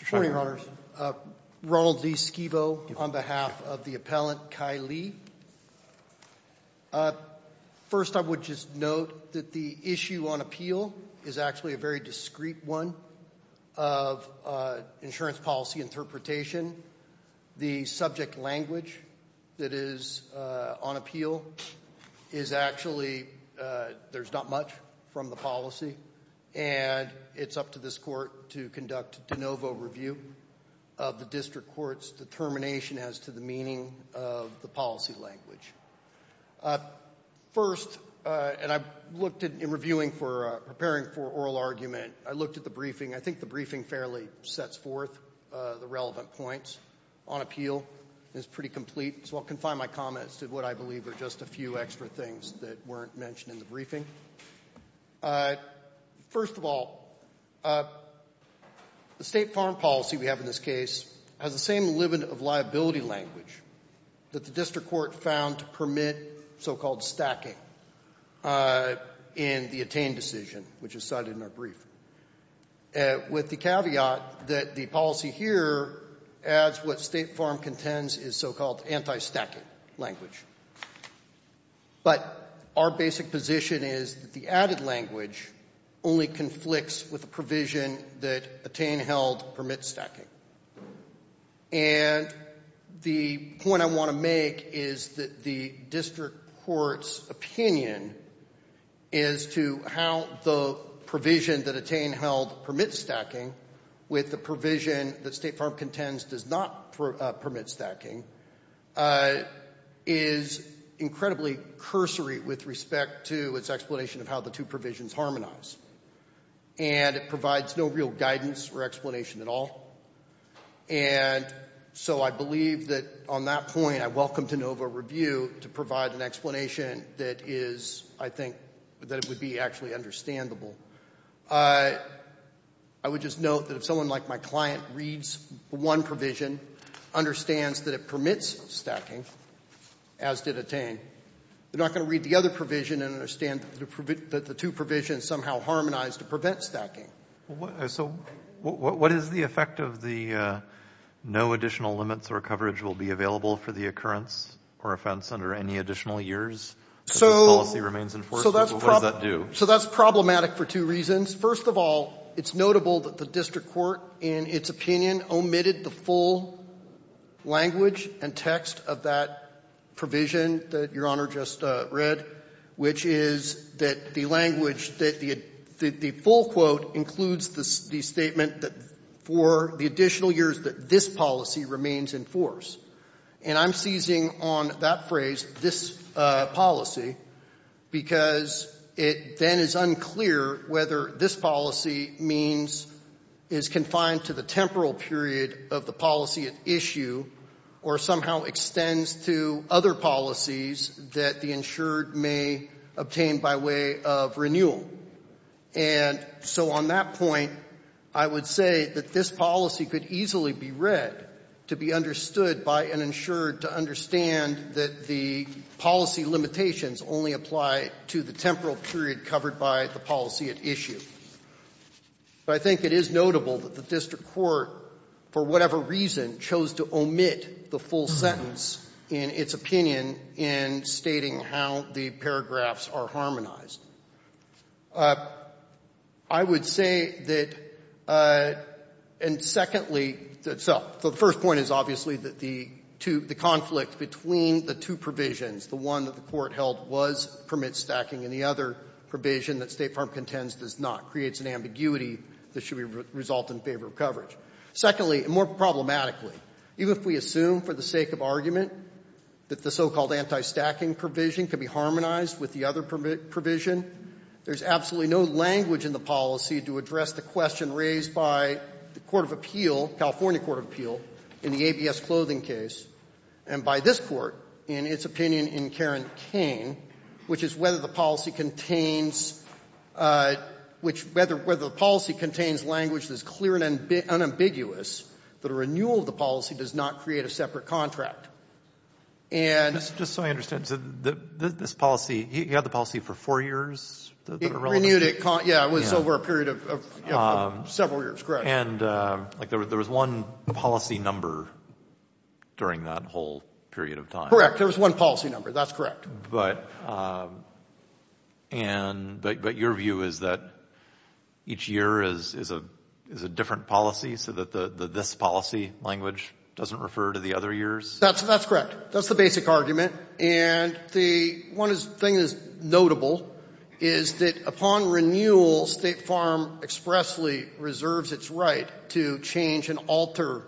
Good morning, Your Honors. Ronald Lee Scevo on behalf of the appellant, Kai Lee. First, I would just note that the issue on appeal is actually a very discreet one of insurance policy interpretation. The subject language that is on appeal is actually, there's not much from the policy and it's up to this court to conduct de novo review of the district court's determination as to the meaning of the policy language. First, and I've looked at in reviewing for preparing for oral argument, I looked at the briefing. I think the briefing fairly sets forth the relevant points on appeal. It's pretty complete, so I'll confine my comments to what I believe are just a few extra things that weren't mentioned in the briefing. First of all, the state farm policy we have in this case has the same limit of liability language that the district court found to permit so called stacking in the attained decision, which is cited in our brief, with the caveat that the policy here adds what State Farm contends is so-called anti-stacking language. But our basic position is that the added language only conflicts with the provision that attain held permit stacking. And the point I want to make is that the district court's opinion is to how the provision that attain held permit stacking with the provision that State Farm contends does not permit stacking, is incredibly cursory with respect to its explanation of how the two provisions harmonize. And it provides no real guidance or explanation at all. And so I believe that on that point I welcome to NOVA review to provide an explanation that is, I think, that it would be actually understandable. I would just note that if someone like my client reads one provision, understands that it permits stacking, as did attain, they're not going to read the other provision and understand that the two provisions somehow harmonize to prevent stacking. So what is the effect of the no additional limits or coverage will be available for the occurrence or offense under any additional years? If the policy remains enforceable, what does that do? So that's problematic for two reasons. First of all, it's notable that the district court, in its opinion, omitted the full language and text of that provision that Your Honor just read, which is that the language, that the full quote includes the statement that for the additional years that this policy remains in force. And I'm seizing on that phrase, this policy, because it then is unclear whether this policy means, is confined to the temporal period of the policy at issue or somehow extends to other policies that the insured may obtain by way of renewal. And so on that point, I would say that this policy could easily be read to be understood by an insured to understand that the policy limitations only apply to the temporal period covered by the policy at issue. I think it is notable that the district court, for whatever reason, chose to omit the full sentence in its opinion in stating how the paragraphs are harmonized. I would say that, and secondly, so the first point is obviously that the conflict between the two provisions, the one that the court held was permit stacking and the other provision that State Farm contends does not, creates an ambiguity that should result in favor of coverage. Secondly, and more problematically, even if we assume for the sake of argument that the so-called anti-stacking provision can be harmonized with the other provision, there's absolutely no language in the policy to address the question raised by the Court of Appeal, California Court of Appeal, in the ABS clothing case, and by this court, in its opinion in Karen Kane, which is whether the policy contains language that is clear and unambiguous, that a renewal of the policy does not create a separate contract. And so I understand, this policy, he had the policy for four years? It renewed it, yeah, it was over a period of several years, correct. And, like, there was one policy number during that whole period of time. Correct, there was one policy number, that's correct. But, and, but your view is that each year is a, is a different policy so that this policy language doesn't refer to the other years? That's, that's correct. That's the basic argument. And the one thing that's notable is that upon renewal, State Farm expressly reserves its right to change and alter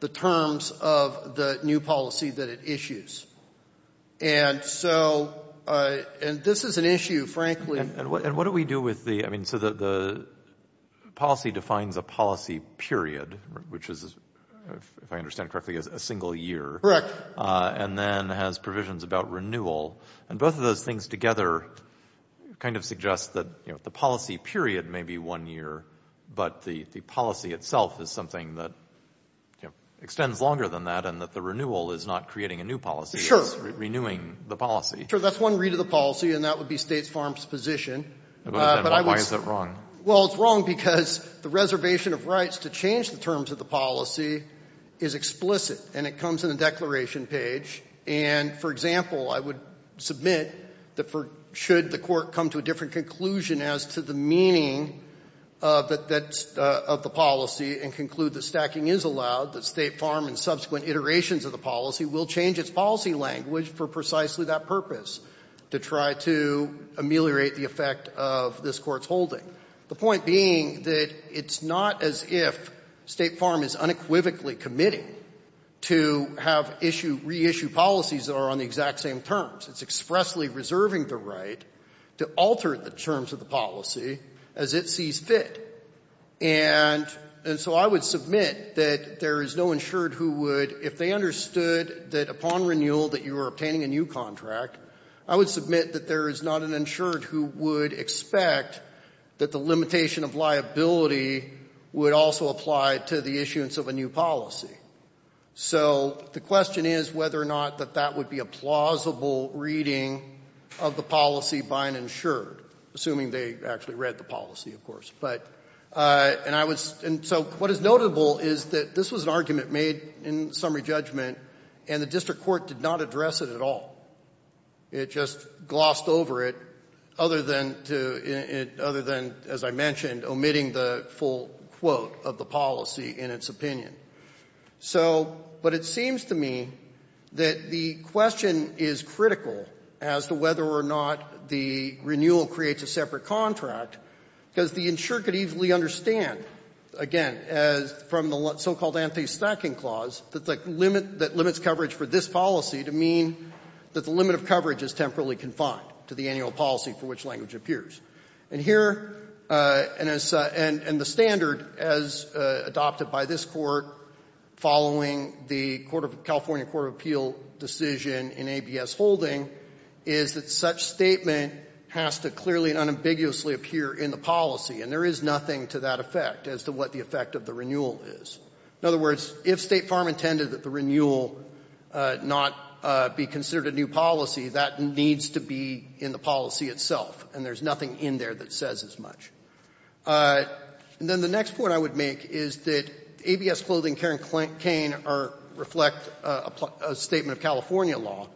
the terms of the new policy that it issues. And so, and this is an issue, frankly. And what do we do with the, I mean, so the policy defines a policy period, which is, if I understand correctly, a single year. Correct. And then has provisions about renewal. And both of those things together kind of suggest that, you know, the policy period may be one year, but the policy itself is something that extends longer than that and that the renewal is not creating a new policy. It's renewing the policy. Sure, that's one read of the policy and that would be State Farm's position. Why is that wrong? Well, it's wrong because the reservation of rights to change the terms of the policy is explicit and it comes in the declaration page. And, for example, I would submit that for, should the court come to a different conclusion as to the meaning of the policy and conclude that stacking is allowed, that State Farm in subsequent iterations of the policy will change its policy language for precisely that purpose, to try to ameliorate the effect of this Court's holding, the point being that it's not as if State Farm is unequivocally committing to have issue, reissue policies that are on the exact same terms. It's expressly reserving the right to alter the terms of the policy as it sees fit. And so I would submit that there is no insured who would, if they understood that upon renewal that you were obtaining a new contract, I would submit that there is not an insured who would expect that the limitation of liability would also apply to the issuance of a new policy. So the question is whether or not that that would be a plausible reading of the policy by an insured, assuming they actually read the policy, of course. But, and I was, and so what is notable is that this was an argument made in summary judgment and the district court did not address it at all. It just glossed over it other than to, other than, as I mentioned, omitting the full quote of the policy in its opinion. So, but it seems to me that the question is critical as to whether or not the renewal creates a separate contract because the insured could easily understand, again, from the so-called anti-stacking clause, that limits coverage for this policy to mean that the limit of coverage is temporarily confined to the annual policy for which language appears. And here, and the standard as adopted by this court following the California Court of Appeal decision in ABS holding is that such statement has to clearly and unambiguously appear in the policy and there is nothing to that effect as to what the effect of the renewal is. In other words, if State Farm intended that the renewal not be considered a new policy, that needs to be in the policy itself and there's nothing in there that says as much. And then the next point I would make is that ABS clothing and Karen Cain reflect a statement of California law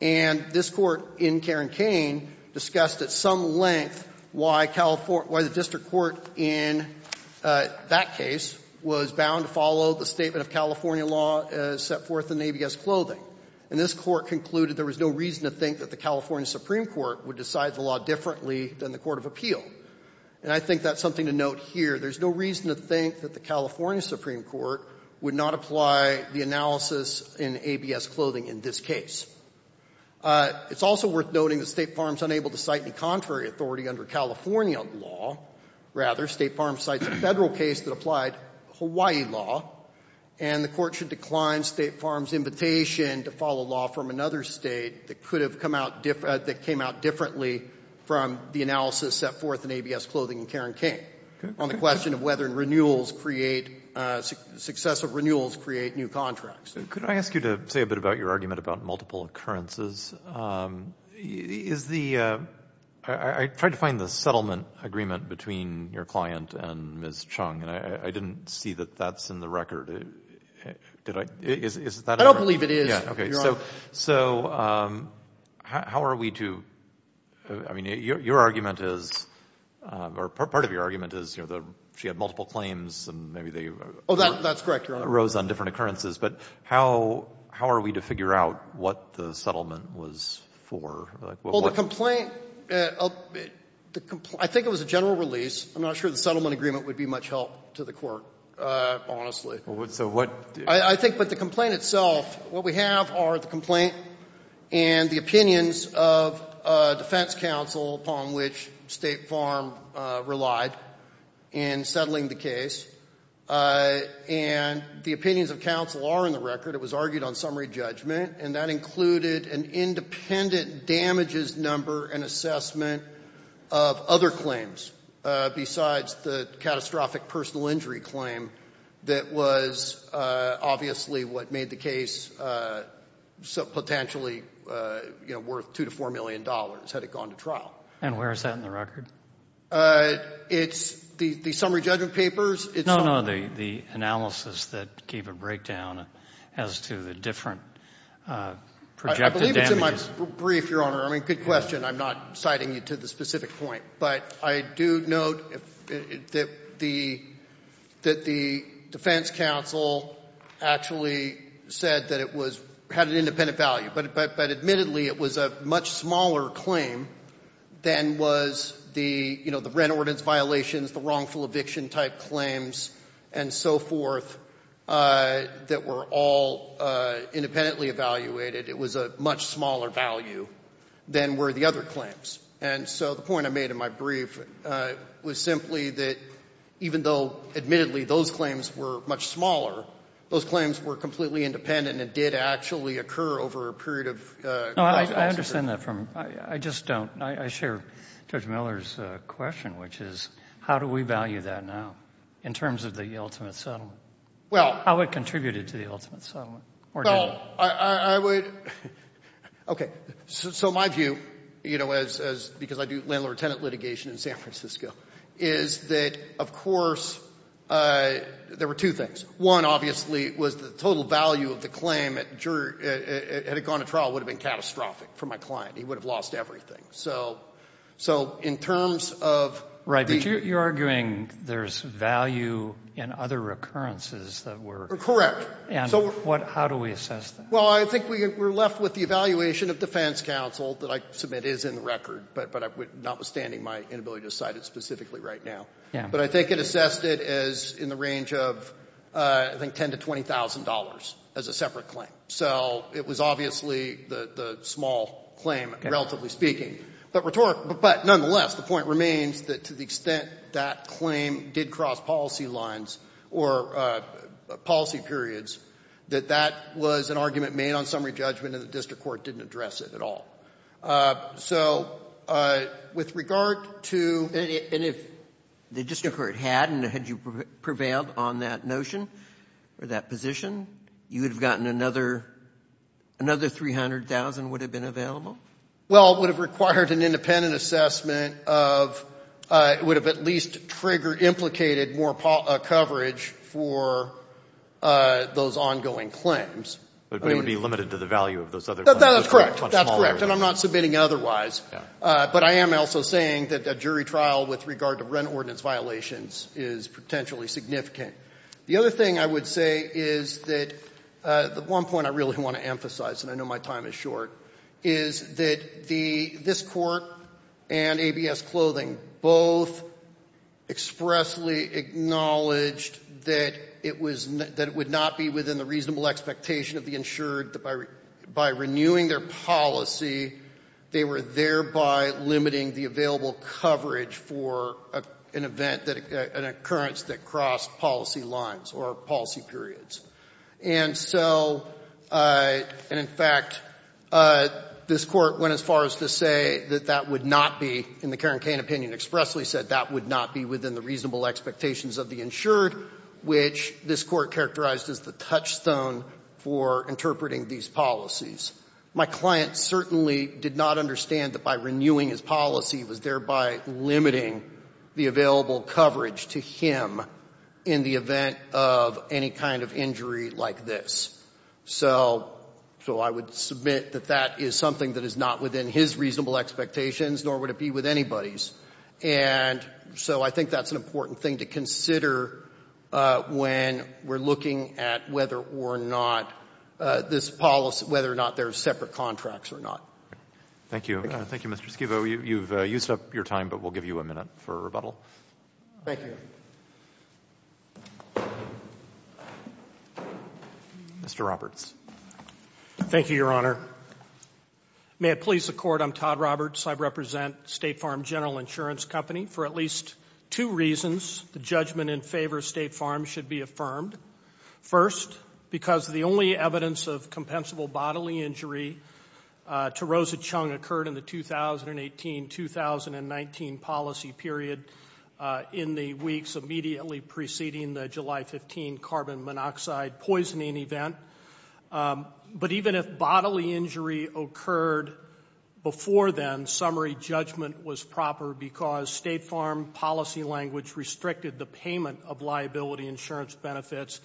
and this court in Karen Cain discussed at some length why the district court in that case was bound to follow the statement of California law set forth in ABS clothing. And this court concluded there was no reason to think that the California Supreme Court would decide the law differently than the Court of Appeal. And I think that's something to note here. There's no reason to think that the California Supreme Court would not apply the analysis in ABS clothing in this case. It's also worth noting that State Farm is unable to cite any contrary authority under California law. Rather, State Farm cites a Federal case that applied Hawaii law and the court should decline State Farm's invitation to follow law from another state that came out differently from the analysis set forth in ABS clothing in Karen Cain on the question of whether successful renewals create new contracts. Could I ask you to say a bit about your argument about multiple occurrences? I tried to find the settlement agreement between your client and Ms. Chung and I didn't see that that's in the record. I don't believe it is, Your Honor. So, how are we to... I mean, your argument is... or part of your argument is she had multiple claims and maybe they arose on different occurrences. But how are we to figure out what the settlement was for? Well, the complaint... I think it was a general release. I'm not sure the settlement agreement would be much help to the court, honestly. So what... I think the complaint itself... What we have are the complaint and the opinions of defense counsel upon which State Farm relied in settling the case. And the opinions of counsel are in the record. It was argued on summary judgment and that included an independent damages number and assessment of other claims besides the catastrophic personal injury claim. That was obviously what made the case potentially worth two to four million dollars had it gone to trial. And where is that in the record? It's... the summary judgment papers... No, no, the analysis that gave a breakdown as to the different projected damages. I believe it's in my brief, Your Honor. I mean, good question. I'm not citing you to the specific point. But I do note that the... the defense counsel actually said that it was... had an independent value. But admittedly, it was a much smaller claim than was the, you know, the rent ordinance violations, the wrongful eviction-type claims and so forth that were all independently evaluated. It was a much smaller value than were the other claims. And so the point I made in my brief was simply that, even though, admittedly, those claims were much smaller, those claims were completely independent and did actually occur over a period of... No, I understand that from... I just don't... I share Judge Miller's question, which is, how do we value that now in terms of the ultimate settlement? Well... How it contributed to the ultimate settlement. Well, I would... Okay. So my view, you know, as... because I do landlord-tenant litigation in San Francisco, is that, of course, there were two things. One, obviously, was the total value of the claim had it gone to trial would have been catastrophic for my client. He would have lost everything. So in terms of... But you're arguing there's value in other occurrences that were... Correct. And how do we assess that? Well, I think we're left with the evaluation of defense counsel, that I submit is in the record, but notwithstanding my inability to cite it specifically right now. But I think it assessed it as in the range of, I think, $10,000 to $20,000 as a separate claim. So it was obviously the small claim, relatively speaking. But nonetheless, the point remains that to the extent that claim did cross policy lines or policy periods, that that was an argument made on summary judgment and the district court didn't address it at all. So, with regard to... And if the district court hadn't, had you prevailed on that notion, or that position, you would have gotten another $300,000 would have been available? Well, it would have required an independent assessment of, it would have at least triggered, implicated more coverage for those ongoing claims. But it would be limited to the value of those other... That's correct. And I'm not submitting otherwise. But I am also saying that a jury trial with regard to rent ordinance violations is potentially significant. The other thing I would say is that one point I really want to emphasize, and I know my time is short, is that this court and ABS Clothing both expressly acknowledged that it would not be within the reasonable expectation of the insured that by renewing their policy they were thereby limiting the available coverage for an event, an occurrence that crossed policy lines or policy periods. And so, and in fact this court went as far as to say that that would not be, in the Karen Cain opinion, expressly said that would not be within the reasonable expectations of the insured which this court characterized as the touchstone for interpreting these policies. My client certainly did not understand that by renewing his policy was thereby limiting the available coverage to him in the event of any kind of injury like this. So, I would submit that that is something that is not within his reasonable expectations nor would it be with anybody's. And so, I think that's an important thing to consider when we're looking at whether or not this policy, whether or not there's separate contracts or not. Thank you. Thank you, Mr. Schievo. You've used up your time, but we'll give you a minute for rebuttal. Thank you. Mr. Roberts. Thank you, Your Honor. May it please the Court, I'm Todd Roberts. I represent State Farm General Insurance Company for at least two reasons. The judgment in favor of State Farm should be affirmed. First, because the only evidence of compensable bodily injury to Rosa Chung occurred in the 2018-2019 policy period in the weeks immediately preceding the July 15 carbon monoxide poisoning event. But even if bodily injury occurred before then, summary judgment was proper because State Farm policy language restricted the payment of liability insurance benefits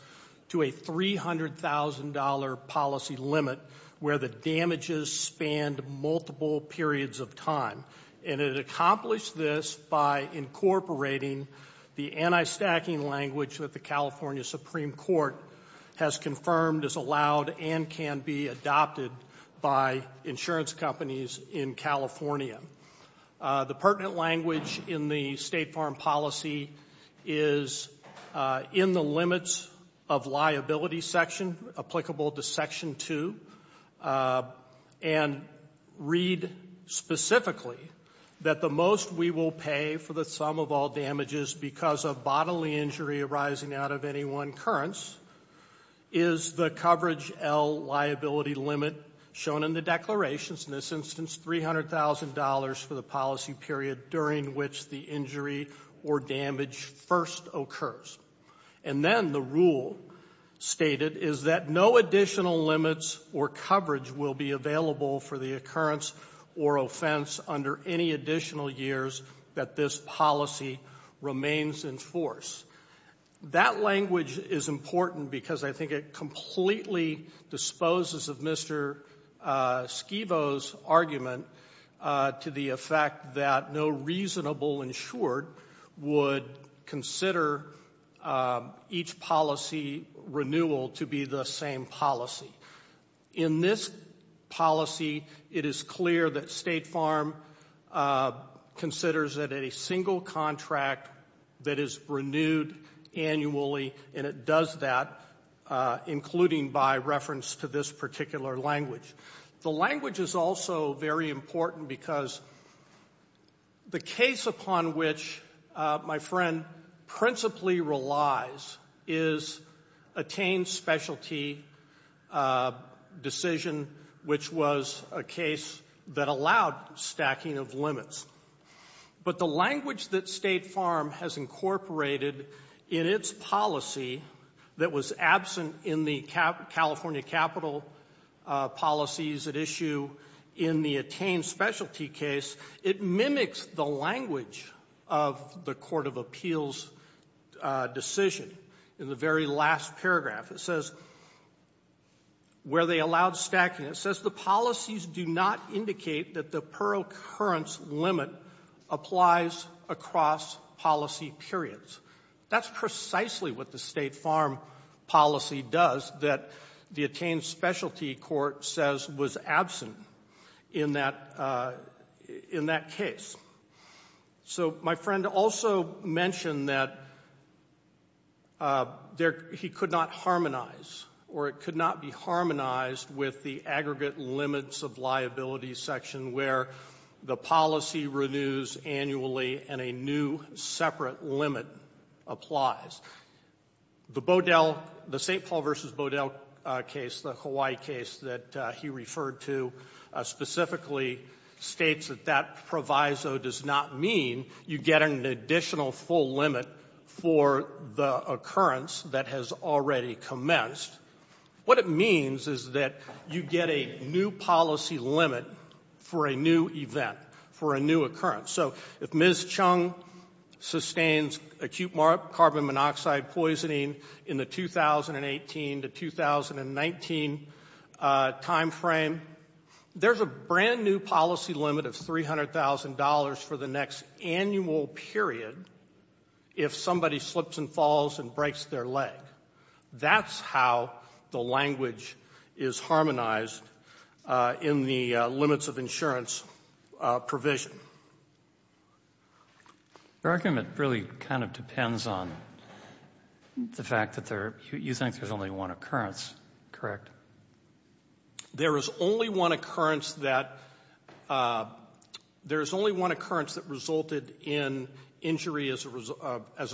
to a $300,000 policy limit where the damages spanned multiple periods of time. And it accomplished this by incorporating the anti-stacking language that the California Supreme Court has confirmed is allowed and can be adopted by insurance companies in California. The pertinent language in the State Farm policy is in the limits of liability section applicable to Section 2 and read specifically that the most we will pay for the sum of all damages because of bodily injury arising out of any one occurrence is the coverage L liability limit shown in the declarations in this instance $300,000 for the policy period during which the injury or damage first occurs. And then the rule stated is that no additional limits or coverage will be available for the occurrence or offense under any additional years that this policy remains in force. That language is important because I think it completely disposes of Mr. Scevo's argument to the effect that no reasonable insured would consider each policy renewal to be the same policy. In this policy it is clear that State Farm considers that a single contract that is renewed annually and it does that including by reference to this particular language. The language is also very important because the case upon which my friend principally relies is attained specialty decision which was a case that allowed stacking of limits. But the language that State Farm has incorporated in its policy that was absent in the California capital policies at issue in the attained specialty case, it mimics the language of the Court of Appeals decision in the very last paragraph. It says where they allowed stacking. It says the policies do not indicate that the per occurrence limit applies across policy periods. That's precisely what the State Farm policy does that the attained specialty court says was absent in that case. So my friend also mentioned that he could not harmonize or it could not be harmonized with the aggregate limits of liability section where the policy renews annually and a new separate limit applies. The St. Paul vs. Bodell case, the Hawaii case that he referred to specifically states that that proviso does not mean you get an additional full limit for the occurrence that has already commenced. What it means is that you get a new policy limit for a new event, for a new event, for a new case where Chung sustains acute carbon monoxide poisoning in the 2018 to 2019 time frame, there's a brand new policy limit of $300,000 for the next annual period if somebody slips and falls and breaks their leg. That's how the language is harmonized in the limits of insurance provision. The argument really kind of depends on the fact that you think there's only one occurrence, correct? There is only one occurrence that resulted in injury as a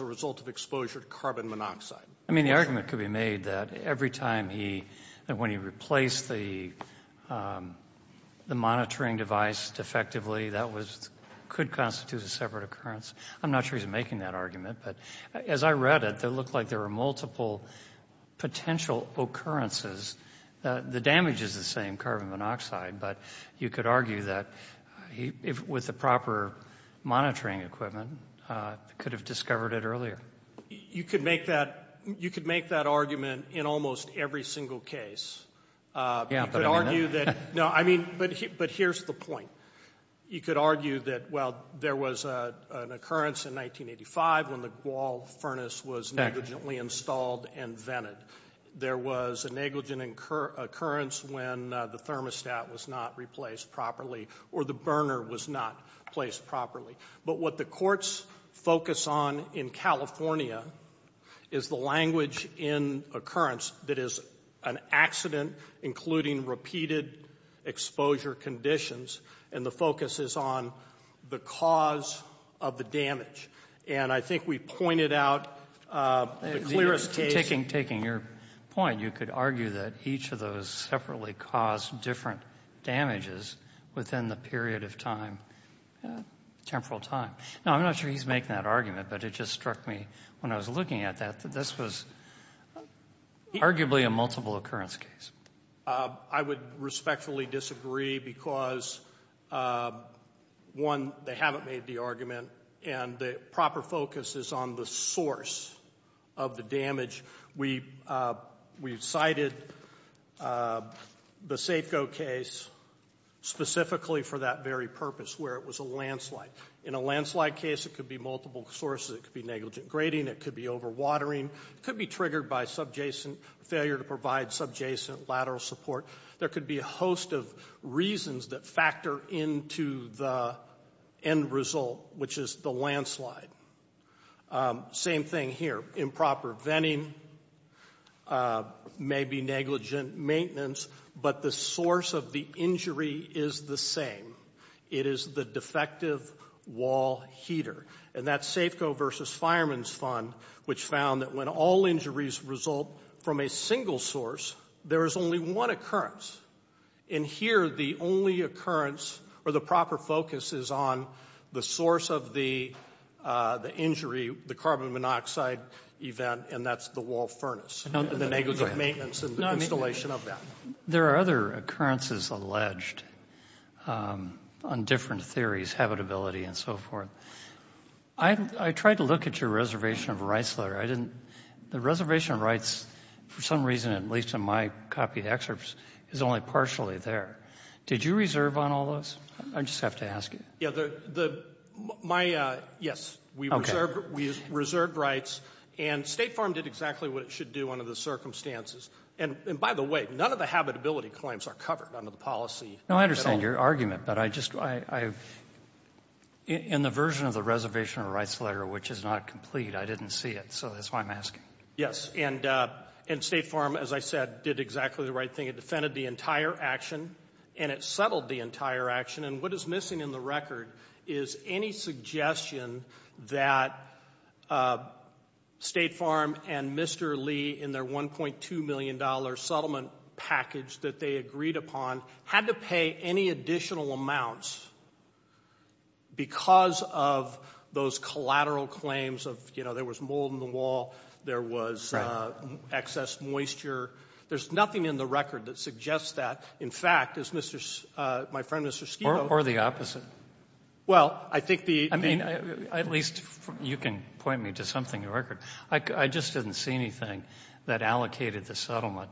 result of exposure to carbon monoxide. The argument could be made that every time he replaced the monitoring device defectively, that could constitute a separate occurrence. I'm not sure he's making that argument, but as I read it, it looked like there were multiple potential occurrences. The damage is the same, carbon monoxide, but you could argue that with the proper monitoring equipment, you could have discovered it earlier. You could make that argument in almost every single case. But here's the point. You could argue that, well, there was an occurrence in 1985 when the wall furnace was negligently installed and vented. There was a negligent occurrence when the thermostat was not replaced properly or the burner was not placed properly. But what the courts focus on in California is the language in occurrence that is an accident including repeated exposure conditions and the focus is on the cause of the damage. And I think we pointed out the clearest case... Taking your point, you could argue that each of those separately caused different damages within the period of time. Temporal time. Now, I'm not sure he's making that argument, but it just struck me when I was looking at that that this was arguably a multiple occurrence case. I would respectfully disagree because one, they haven't made the argument and the proper focus is on the source of the damage. We've cited the specifically for that very purpose where it was a landslide. In a landslide case, it could be multiple sources. It could be negligent grading. It could be overwatering. It could be triggered by failure to provide subjacent lateral support. There could be a host of reasons that factor into the end result, which is the landslide. Same thing here. Improper venting may be negligent maintenance, but the source of the injury is the same. It is the defective wall heater. That's Safeco versus Fireman's Fund, which found that when all injuries result from a single source, there is only one occurrence. Here, the only occurrence or the proper focus is on the source of the injury, the carbon monoxide event, and that's the wall furnace. The negligent maintenance and the installation of that. There are other occurrences alleged on different theories, habitability and so forth. I tried to look at your reservation of rights letter. The reservation of rights for some reason, at least in my copy excerpts, is only partially there. Did you reserve on all those? I just have to ask you. Yes. We reserved rights and State Farm did exactly what it should do under the circumstances. By the way, none of the habitability claims are covered under the policy. I understand your argument, but in the version of the reservation of rights letter, which is not complete, I didn't see it, so that's why I'm asking. Yes. State Farm, as I said, did exactly the right thing. It defended the entire action and it settled the entire action. What is missing in the record is any suggestion that State Farm and Mr. Lee in their $1.2 million settlement package that they agreed upon, had to pay any additional amounts because of those collateral claims of, you know, there was mold in the wall, there was excess moisture. There's nothing in the record that suggests that. In fact, my friend Mr. Skeeto Or the opposite. I mean, at least you can point me to something in the record. I just didn't see anything that allocated the settlement.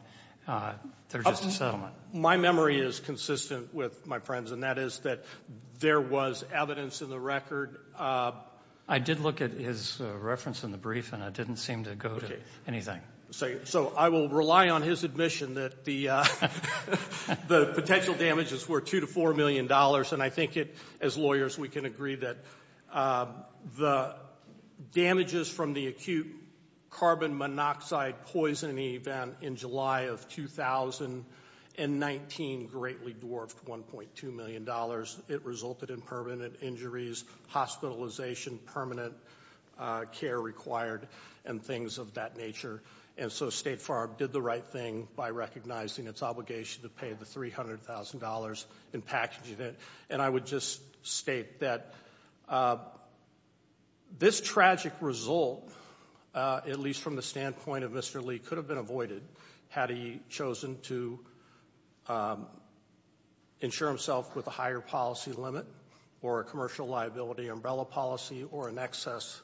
They're just a settlement. My memory is consistent with my friends and that is that there was evidence in the record. I did look at his reference in the brief and it didn't seem to go to anything. So I will rely on his admission that the potential damages were $2 to $4 million and I think as lawyers we can agree that the damages from the acute carbon monoxide poisoning event in July of 2019 greatly dwarfed $1.2 million. It resulted in permanent injuries, hospitalization, permanent care required and things of that nature. And so State Farm did the right thing by recognizing its obligation to pay the $300,000 in packaging it and I would just state that this tragic result at least from the standpoint of Mr. Lee could have been avoided had he chosen to insure himself with a higher policy limit or a commercial liability umbrella policy or an excess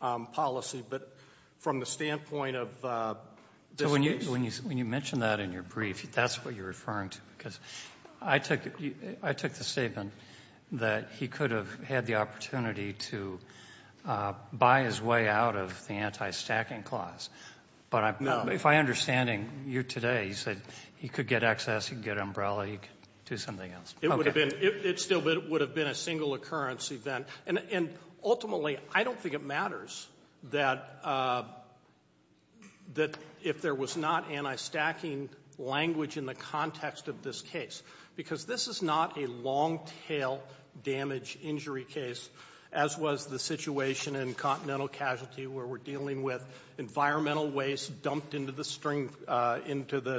policy. But from the standpoint of When you mention that in your brief that's what you're referring to because I took the statement that he could have had the opportunity to buy his way out of the anti-stacking clause. If I'm understanding you today you said he could get excess, he could get umbrella, he could do something else. It still would have been a single occurrence event and ultimately I don't think it matters that if there was not anti-stacking language in the context of this case because this is not a long tail damage injury case as was the situation in Continental Casualty where we're dealing with environmental waste dumped into the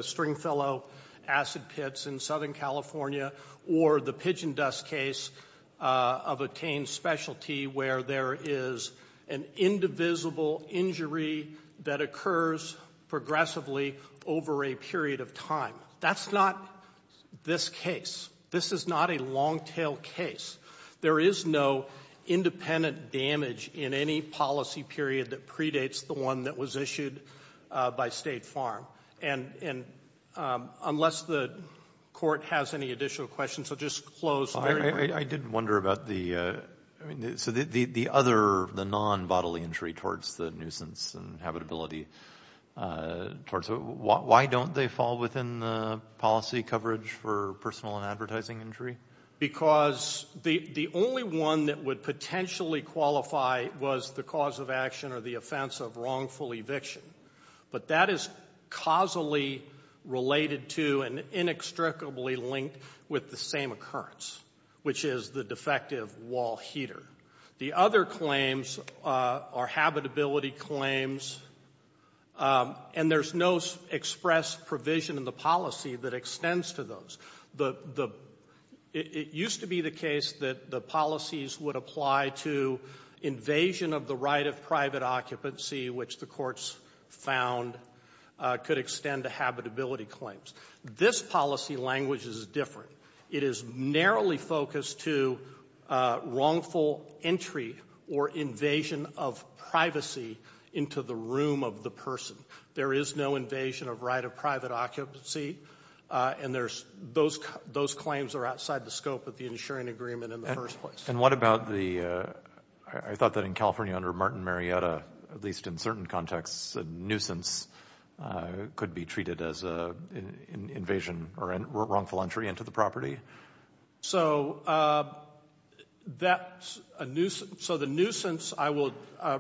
Stringfellow acid pits in Southern California or the Pigeon Dust case of a tamed specialty where there is an indivisible injury that occurs progressively over a period of time That's not this case This is not a long tail case. There is no independent damage in any policy period that predates the one that was issued by State Farm Unless the court has any additional questions I'll just close I did wonder about the other, the non-bodily injury towards the nuisance and habitability Why don't they fall within the policy coverage for personal and advertising injury? Because the only one that would potentially qualify was the cause of action or the offense of wrongful eviction. But that is causally related to and inextricably linked with the same occurrence which is the defective wall heater. The other claims are habitability claims and there's no express provision in the policy that extends to those It used to be the case that the policies would apply to invasion of the right of private occupancy which the courts found could extend to habitability claims This policy language is different. It is narrowly focused to wrongful entry or invasion of privacy into the room of the person There is no invasion of right of private occupancy Those claims are outside the scope of the insuring agreement in the first place And what about the I thought that in California under Martin Marietta at least in certain contexts a nuisance could be treated as an invasion or wrongful entry into the property So So the nuisance I will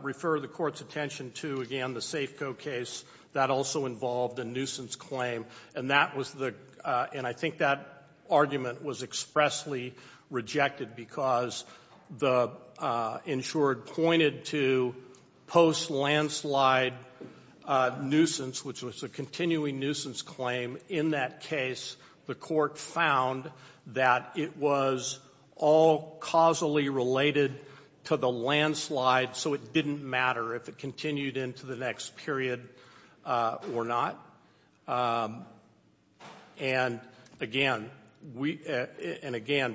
refer the court's attention to again the Safeco case that also involved a nuisance claim and that was and I think that argument was expressly rejected because the insured pointed to post-landslide nuisance which was a continuing nuisance claim in that case the court found that it was all causally related to the landslide so it didn't matter if it continued into the next period or not and again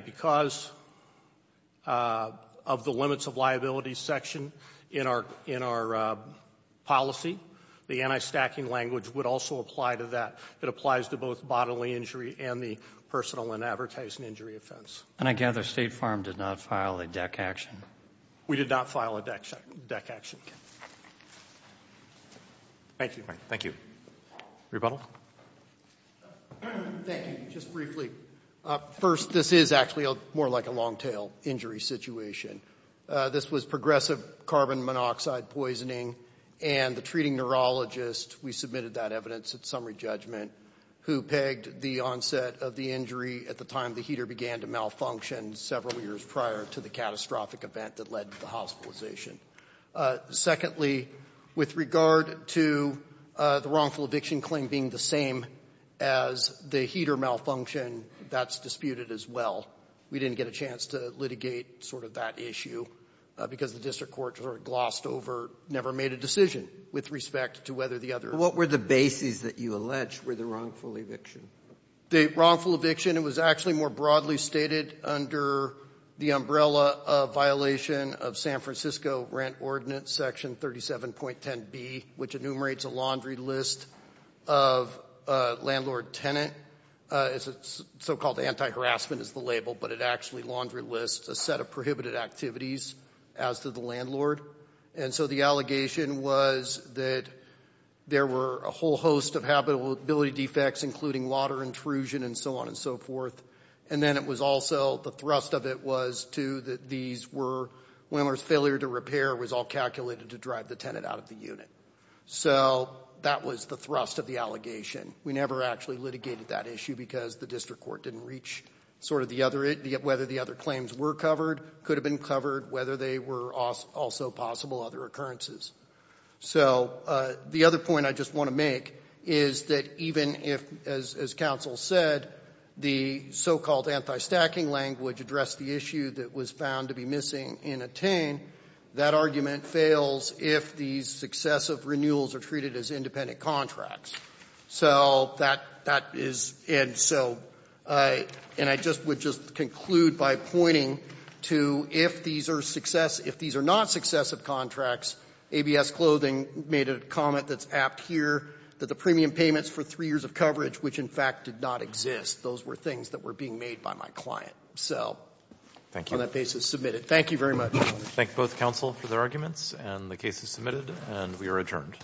because of the limits of liability section in our policy the anti-stacking language would also apply to that. It applies to both the family injury and the personal and advertising injury offense And I gather State Farm did not file a DEC action We did not file a DEC action Thank you Rebuttal Thank you Just briefly First this is actually more like a long tail injury situation This was progressive carbon monoxide poisoning and the treating neurologist we submitted that evidence at summary judgment who pegged the onset of the injury at the time the heater began to malfunction several years prior to the catastrophic event that led to the hospitalization Secondly with regard to the wrongful eviction claim being the same as the heater malfunction that's disputed as well We didn't get a chance to litigate sort of that issue because the district court glossed over never made a decision with respect to whether the other What were the bases that you allege were the wrongful eviction The wrongful eviction it was actually more broadly stated under the umbrella of violation of San Francisco Rent Ordinance Section 37.10b which enumerates a laundry list of landlord tenant so called anti-harassment is the label but it actually laundry list a set of prohibited activities as to the landlord and so the allegation was that there were a whole host of habitability defects including water intrusion and so on and so forth and then it was also the thrust of it was to that these were failure to repair was all calculated to drive the tenant out of the unit so that was the thrust of the allegation. We never actually litigated that issue because the district court didn't reach sort of the other claims were covered could have been covered whether they were also possible other occurrences so the other point I just want to make is that even if as counsel said the so called anti-stacking language addressed the issue that was found to be missing in attain that argument fails if these successive renewals are treated as independent contracts so that is and so and I just would just conclude by pointing to if these are not successive contracts ABS clothing made a comment that's apt here that the premium payments for three years of coverage which in fact did not exist those were things that were being made by my client so on that basis submitted. Thank you very much. Thank both counsel for their arguments and the case is submitted and we are adjourned.